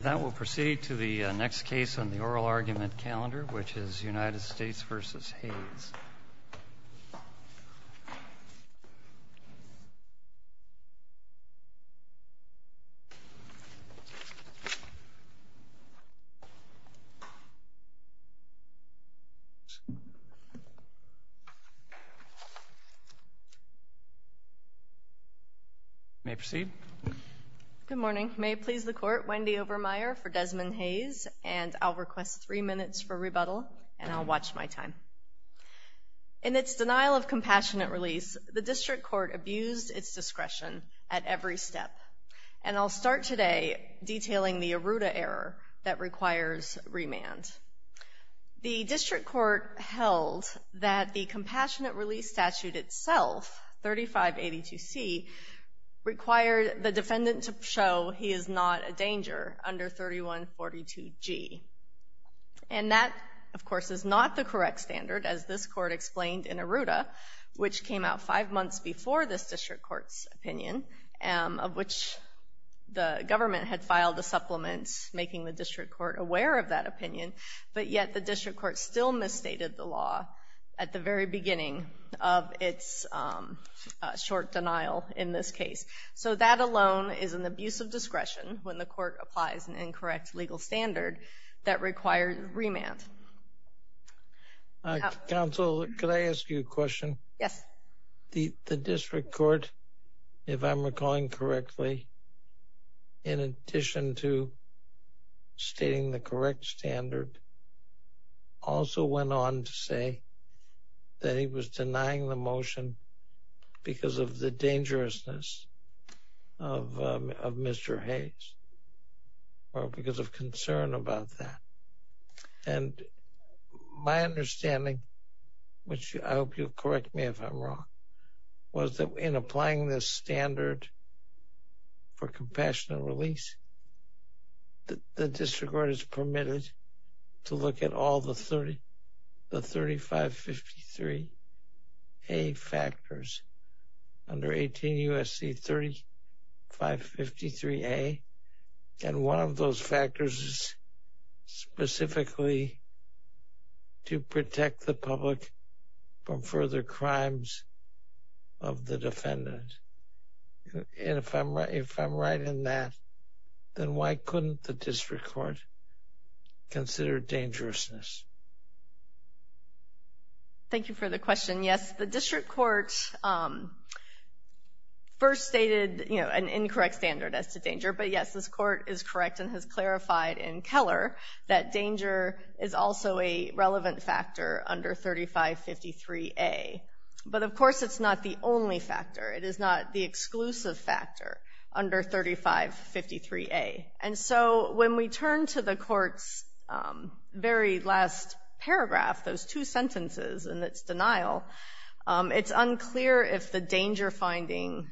That will proceed to the next case on the oral argument calendar, which is United States v. Hayes. You may proceed. Good morning. May it please the Court, Wendy Obermeyer for Desmond Hayes, and I'll request three minutes for rebuttal, and I'll watch my time. In its denial of compassionate release, the District Court abused its discretion at every step. And I'll start today detailing the Aruda error that requires remand. The District Court held that the compassionate release statute itself, 3582C, required the defendant to show he is not a danger under 3142G. And that, of course, is not the correct standard, as this Court explained in Aruda, which came out five months before this District Court's opinion, of which the government had filed a supplement making the District Court aware of that opinion. But yet the District Court still misstated the law at the very beginning of its short denial in this case. So that alone is an abuse of discretion when the Court applies an incorrect legal standard that requires remand. Counsel, could I ask you a question? Yes. The District Court, if I'm recalling correctly, in addition to stating the correct standard, also went on to say that he was denying the motion because of the dangerousness of Mr. Hayes, or because of concern about that. And my understanding, which I hope you'll correct me if I'm wrong, was that in applying this standard for compassionate release, the District Court is permitted to look at all the 3553A factors under 18 U.S.C. 3553A. And one of those factors is specifically to protect the public from further crimes of the defendant. And if I'm right in that, then why couldn't the District Court consider dangerousness? Thank you for the question. Yes, the District Court first stated, you know, an incorrect standard as to danger. But yes, this Court is correct and has clarified in Keller that danger is also a relevant factor under 3553A. But, of course, it's not the only factor. It is not the exclusive factor under 3553A. And so when we turn to the Court's very last paragraph, those two sentences and its denial, it's unclear if the danger finding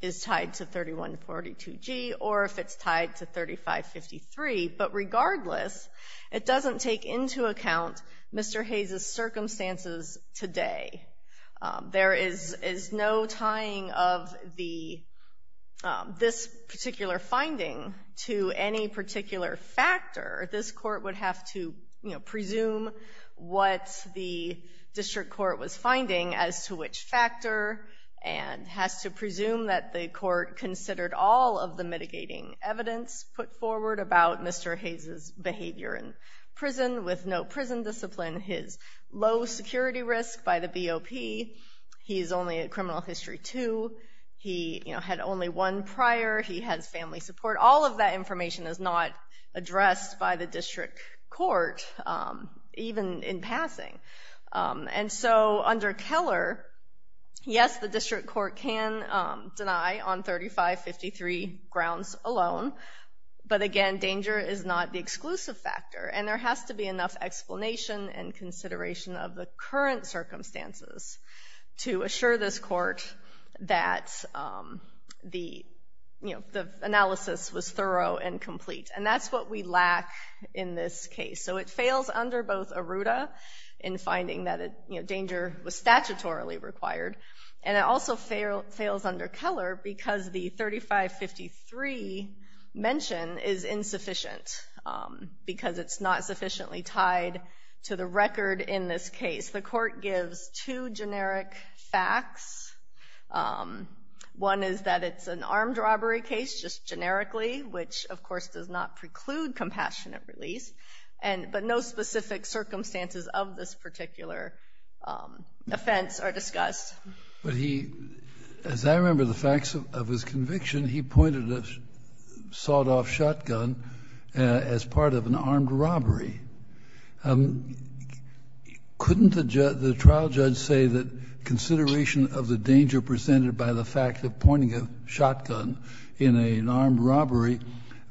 is tied to 3142G or if it's tied to 3553. But regardless, it doesn't take into account Mr. Hayes' circumstances today. There is no tying of this particular finding to any particular factor. This Court would have to, you know, presume what the District Court was finding as to which factor, and has to presume that the Court considered all of the mitigating evidence put forward about Mr. Hayes' behavior in prison with no prison discipline. His low security risk by the BOP. He is only at criminal history two. He, you know, had only one prior. He has family support. All of that information is not addressed by the District Court, even in passing. And so under Keller, yes, the District Court can deny on 3553 grounds alone. But, again, danger is not the exclusive factor. And there has to be enough explanation and consideration of the current circumstances to assure this Court that the, you know, the analysis was thorough and complete. And that's what we lack in this case. So it fails under both Aruda in finding that, you know, danger was statutorily required. And it also fails under Keller because the 3553 mention is insufficient because it's not sufficiently tied to the record in this case. The Court gives two generic facts. One is that it's an armed robbery case, just generically, which, of course, does not preclude compassionate release. But no specific circumstances of this particular offense are discussed. But he, as I remember the facts of his conviction, he pointed a sawed-off shotgun as part of an armed robbery. Couldn't the trial judge say that consideration of the danger presented by the fact of pointing a shotgun in an armed robbery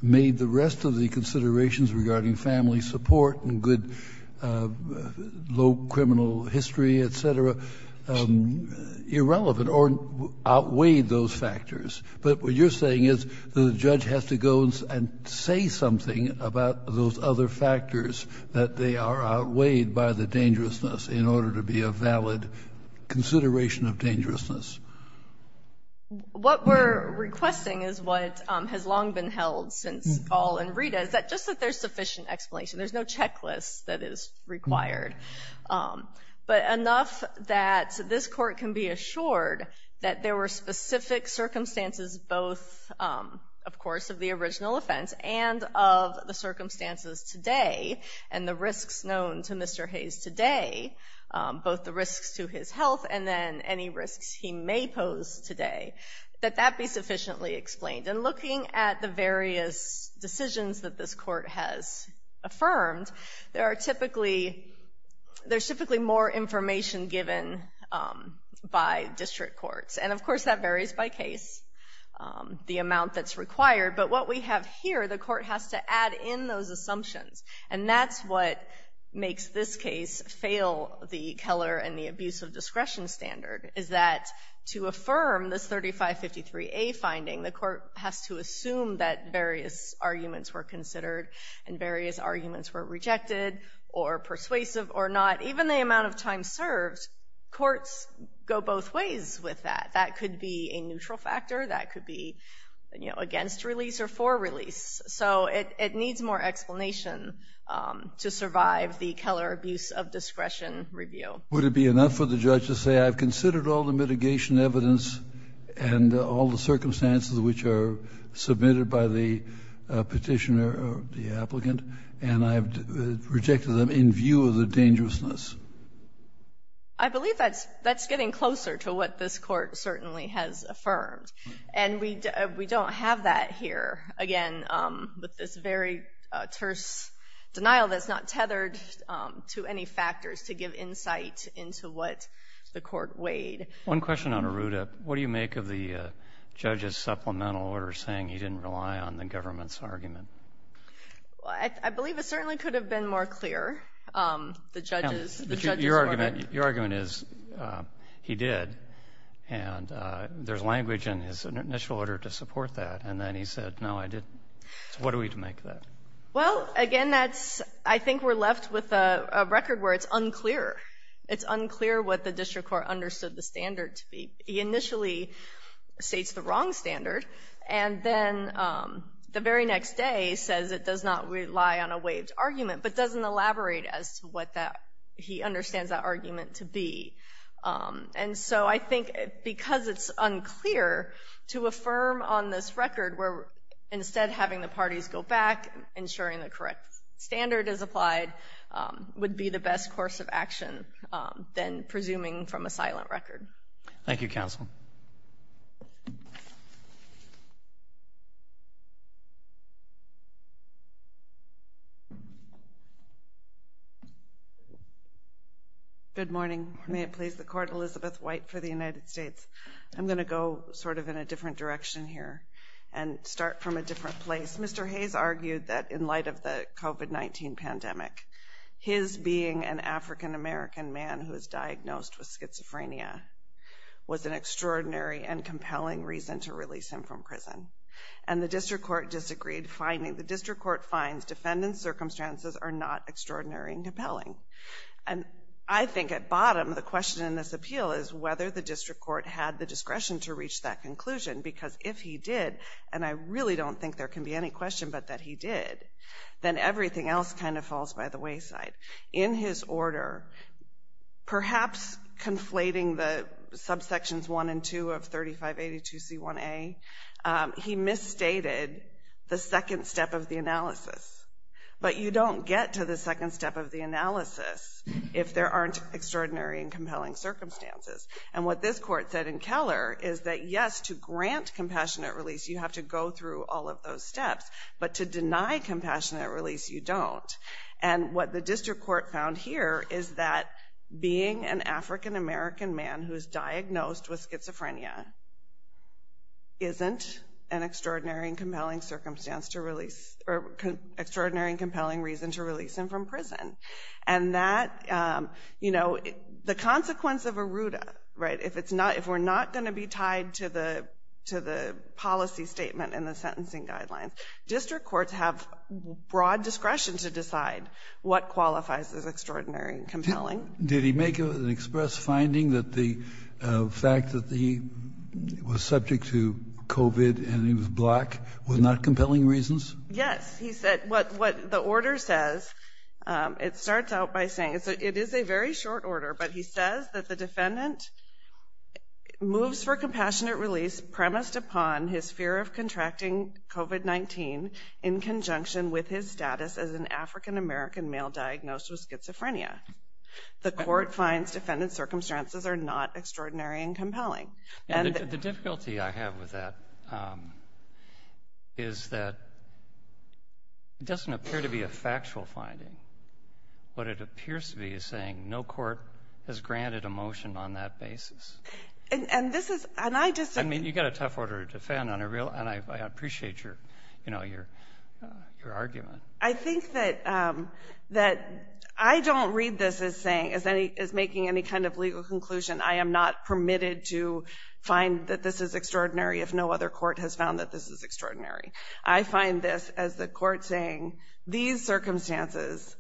made the rest of the considerations regarding family support and good low criminal history, et cetera, irrelevant or outweighed those factors? But what you're saying is the judge has to go and say something about those other factors, that they are outweighed by the dangerousness, in order to be a valid consideration of dangerousness. What we're requesting is what has long been held since Gall and Rita, is that just that there's sufficient explanation. There's no checklist that is required. But enough that this Court can be assured that there were specific circumstances both, of course, of the original offense and of the circumstances today and the risks known to Mr. Hayes today, both the risks to his health and then any risks he may pose today, that that be sufficiently explained. And looking at the various decisions that this Court has affirmed, there's typically more information given by district courts. And, of course, that varies by case, the amount that's required. But what we have here, the Court has to add in those assumptions. And that's what makes this case fail the Keller and the abuse of discretion standard, is that to affirm this 3553A finding, the Court has to assume that various arguments were considered and various arguments were rejected or persuasive or not. Even the amount of time served, courts go both ways with that. That could be a neutral factor. That could be, you know, against release or for release. So it needs more explanation to survive the Keller abuse of discretion review. Would it be enough for the judge to say I've considered all the mitigation evidence and all the circumstances which are submitted by the petitioner or the applicant and I've rejected them in view of the dangerousness? I believe that's getting closer to what this Court certainly has affirmed. And we don't have that here, again, with this very terse denial that's not tethered to any factors to give insight into what the Court weighed. One question on Arruda. What do you make of the judge's supplemental order saying he didn't rely on the government's argument? I believe it certainly could have been more clear. The judge's argument. Your argument is he did, and there's language in his initial order to support that. And then he said, no, I didn't. What do we make of that? Well, again, I think we're left with a record where it's unclear. It's unclear what the district court understood the standard to be. He initially states the wrong standard, and then the very next day says it does not rely on a waived argument, but doesn't elaborate as to what he understands that argument to be. And so I think because it's unclear to affirm on this record, we're instead having the parties go back, ensuring the correct standard is applied, would be the best course of action than presuming from a silent record. Thank you, counsel. Good morning. May it please the court, Elizabeth White for the United States. I'm going to go sort of in a different direction here and start from a different place. Mr. Hayes argued that in light of the COVID-19 pandemic, his being an African-American man who was diagnosed with schizophrenia was an extraordinary and compelling reason to release him from prison. And the district court disagreed, finding the district court finds defendant's circumstances are not extraordinary and compelling. And I think at bottom, the question in this appeal is whether the district court had the discretion to reach that conclusion, because if he did, and I really don't think there can be any question but that he did, then everything else kind of falls by the wayside. In his order, perhaps conflating the subsections 1 and 2 of 3582C1A, he misstated the second step of the analysis. But you don't get to the second step of the analysis if there aren't extraordinary and compelling circumstances. And what this court said in Keller is that, yes, to grant compassionate release, you have to go through all of those steps. But to deny compassionate release, you don't. And what the district court found here is that being an African-American man who was diagnosed with schizophrenia isn't an extraordinary and compelling circumstance to release, or extraordinary and compelling reason to release him from prison. And that, you know, the consequence of ARRUDA, right, if we're not going to be tied to the policy statement and the sentencing guidelines, district courts have broad discretion to decide what qualifies as extraordinary and compelling. Did he make an express finding that the fact that he was subject to COVID and he was black were not compelling reasons? Yes. He said what the order says, it starts out by saying it is a very short order, but he says that the defendant moves for compassionate release premised upon his fear of contracting COVID-19 in conjunction with his status as an African-American male diagnosed with schizophrenia. The court finds defendant's circumstances are not extraordinary and compelling. And the difficulty I have with that is that it doesn't appear to be a factual finding. What it appears to be is saying no court has granted a motion on that basis. And this is ‑‑ I mean, you've got a tough order to defend, and I appreciate your argument. I think that I don't read this as making any kind of legal conclusion. I am not permitted to find that this is extraordinary if no other court has found that this is extraordinary. I find this as the court saying these circumstances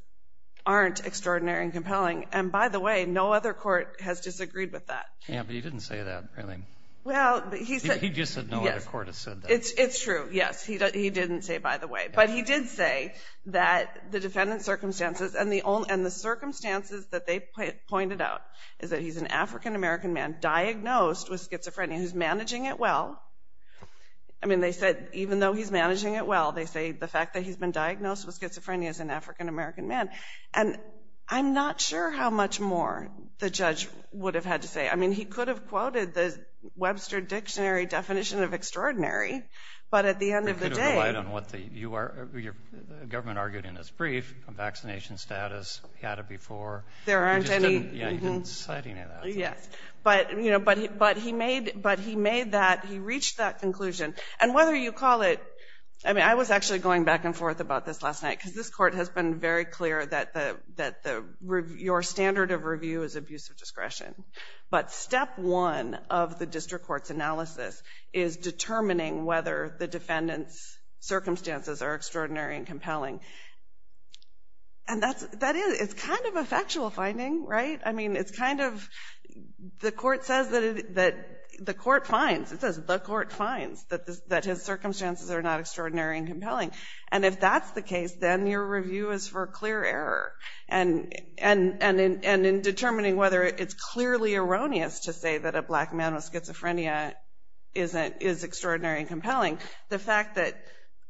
aren't extraordinary and compelling. And, by the way, no other court has disagreed with that. Yeah, but he didn't say that, really. Well, he said ‑‑ He just said no other court has said that. It's true, yes. He didn't say by the way. But he did say that the defendant's circumstances and the circumstances that they pointed out is that he's an African-American man diagnosed with schizophrenia who's managing it well. I mean, they said even though he's managing it well, they say the fact that he's been diagnosed with schizophrenia is an African-American man. And I'm not sure how much more the judge would have had to say. I mean, he could have quoted the Webster Dictionary definition of extraordinary, but at the end of the day ‑‑ It could have relied on what your government argued in its brief on vaccination status. He had it before. There aren't any ‑‑ He just didn't cite any of that. Yes. But he made that ‑‑ He reached that conclusion. And whether you call it ‑‑ I mean, I was actually going back and forth about this last night because this court has been very clear that your standard of review is abuse of discretion. But step one of the district court's analysis is determining whether the defendant's circumstances are extraordinary and compelling. And that is ‑‑ It's kind of a factual finding, right? I mean, it's kind of ‑‑ The court says that it ‑‑ The court finds, it says the court finds that his circumstances are not extraordinary and compelling. And if that's the case, then your review is for clear error. And in determining whether it's clearly erroneous to say that a black man with schizophrenia is extraordinary and compelling, the fact that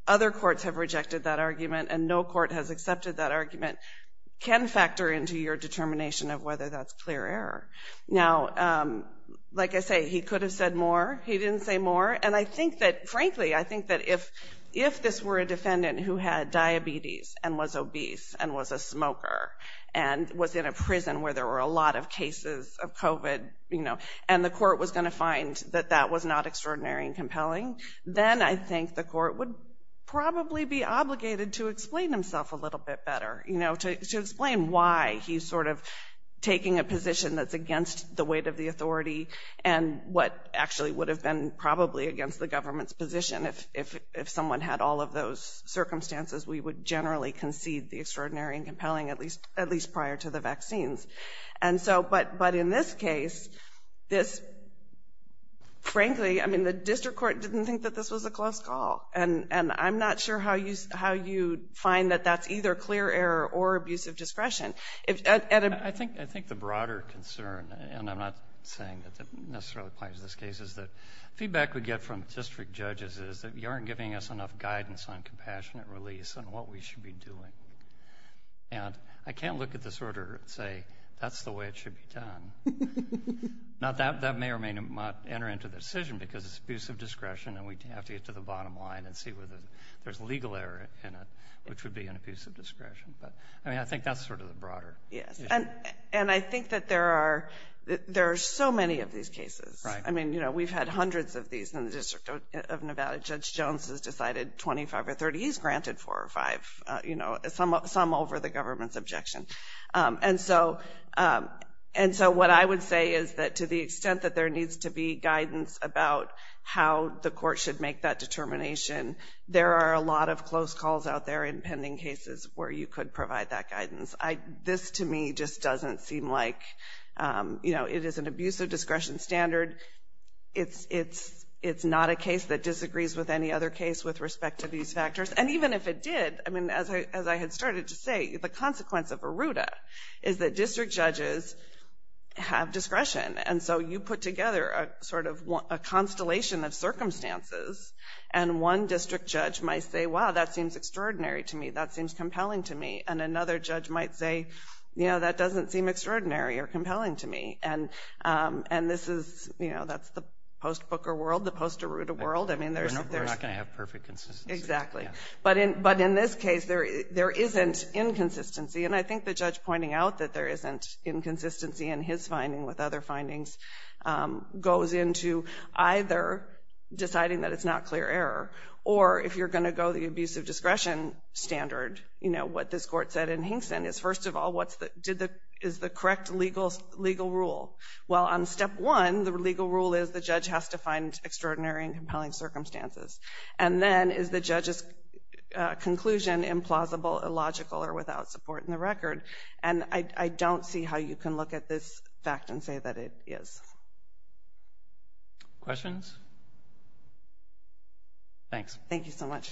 other courts have rejected that argument and no court has accepted that argument can factor into your determination of whether that's clear error. Now, like I say, he could have said more. He didn't say more. And I think that, frankly, I think that if this were a defendant who had diabetes and was obese and was a smoker and was in a prison where there were a lot of cases of COVID, you know, and the court was going to find that that was not extraordinary and compelling, then I think the court would probably be obligated to explain himself a little bit better, you know, to explain why he's sort of taking a position that's against the weight of the authority and what actually would have been probably against the government's position if someone had all of those circumstances. We would generally concede the extraordinary and compelling, at least prior to the vaccines. And so, but in this case, this, frankly, I mean, the district court didn't think that this was a close call. And I'm not sure how you find that that's either clear error or abusive discretion. I think the broader concern, and I'm not saying that necessarily applies to this case, is that feedback we get from district judges is that you aren't giving us enough guidance on compassionate release and what we should be doing. And I can't look at this order and say that's the way it should be done. Now, that may or may not enter into the decision because it's abusive discretion and we have to get to the bottom line and see whether there's legal error in it, which would be an abusive discretion. But, I mean, I think that's sort of the broader issue. Yes, and I think that there are so many of these cases. Right. I mean, you know, we've had hundreds of these in the District of Nevada. Judge Jones has decided 25 or 30. He's granted four or five, you know, some over the government's objection. And so what I would say is that to the extent that there needs to be guidance about how the court should make that determination, there are a lot of close calls out there in pending cases where you could provide that guidance. This, to me, just doesn't seem like, you know, it is an abusive discretion standard. It's not a case that disagrees with any other case with respect to these factors. And even if it did, I mean, as I had started to say, the consequence of a RUDA is that district judges have discretion. And so you put together sort of a constellation of circumstances and one district judge might say, wow, that seems extraordinary to me. That seems compelling to me. And another judge might say, you know, that doesn't seem extraordinary or compelling to me. And this is, you know, that's the post-Booker world, the post-RUDA world. We're not going to have perfect consistency. Exactly. But in this case, there isn't inconsistency. And I think the judge pointing out that there isn't inconsistency in his finding with other findings goes into either deciding that it's not clear error or if you're going to go the abusive discretion standard, you know, what this court said in Hinkson is, first of all, is the correct legal rule? Well, on step one, the legal rule is the judge has to find extraordinary and compelling circumstances. And then is the judge's conclusion implausible, illogical, or without support in the record? And I don't see how you can look at this fact and say that it is. Questions? Thanks. Thank you so much.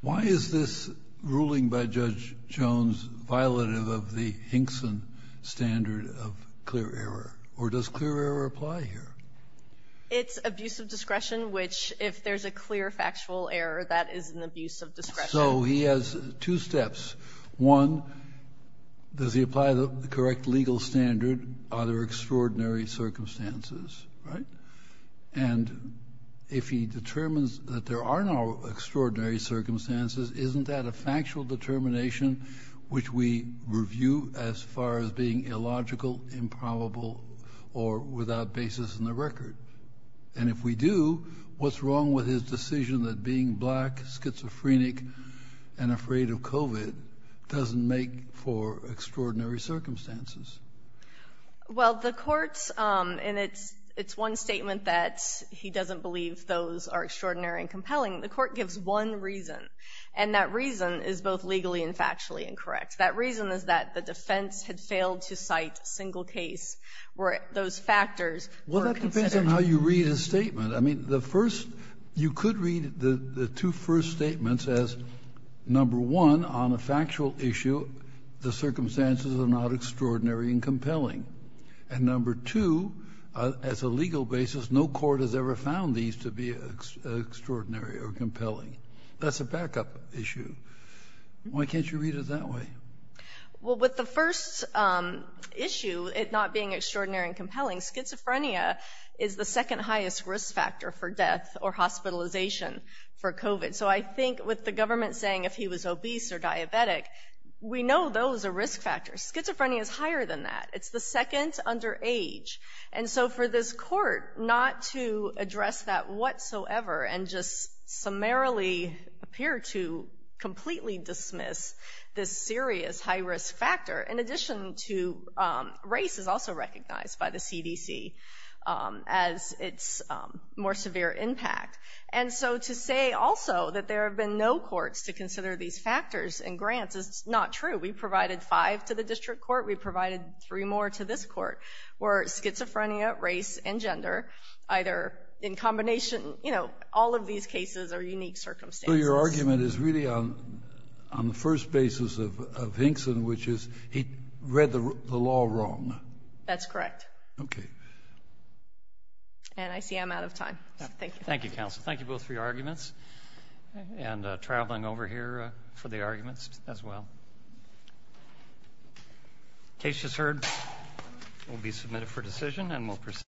Why is this ruling by Judge Jones violative of the Hinkson standard of clear error? Or does clear error apply here? It's abusive discretion, which if there's a clear factual error, that is an abuse of discretion. So he has two steps. One, does he apply the correct legal standard? Are there extraordinary circumstances, right? And if he determines that there are no extraordinary circumstances, isn't that a factual determination, which we review as far as being illogical, improbable, or without basis in the record? And if we do, what's wrong with his decision that being black, schizophrenic, and afraid of COVID doesn't make for extraordinary circumstances? Well, the court's, and it's one statement that he doesn't believe those are extraordinary and compelling. The court gives one reason, and that reason is both legally and factually incorrect. That reason is that the defense had failed to cite a single case where those factors were considered. Well, that depends on how you read his statement. I mean, the first, you could read the two first statements as, number one, on a factual issue, the circumstances are not extraordinary and compelling. And number two, as a legal basis, no court has ever found these to be extraordinary or compelling. That's a backup issue. Why can't you read it that way? Schizophrenia is the second highest risk factor for death or hospitalization for COVID. So I think with the government saying if he was obese or diabetic, we know those are risk factors. Schizophrenia is higher than that. It's the second under age. And so for this court not to address that whatsoever and just summarily appear to completely dismiss this serious high risk factor, in addition to race is also recognized by the CDC as its more severe impact. And so to say also that there have been no courts to consider these factors in grants is not true. We provided five to the district court. We provided three more to this court where schizophrenia, race, and gender, either in combination, you know, all of these cases are unique circumstances. So your argument is really on the first basis of Hinkson, which is he read the law wrong. That's correct. Okay. And I see I'm out of time. Thank you. Thank you, counsel. Thank you both for your arguments and traveling over here for the arguments as well. Case is heard. We'll be submitted for decision and we'll proceed.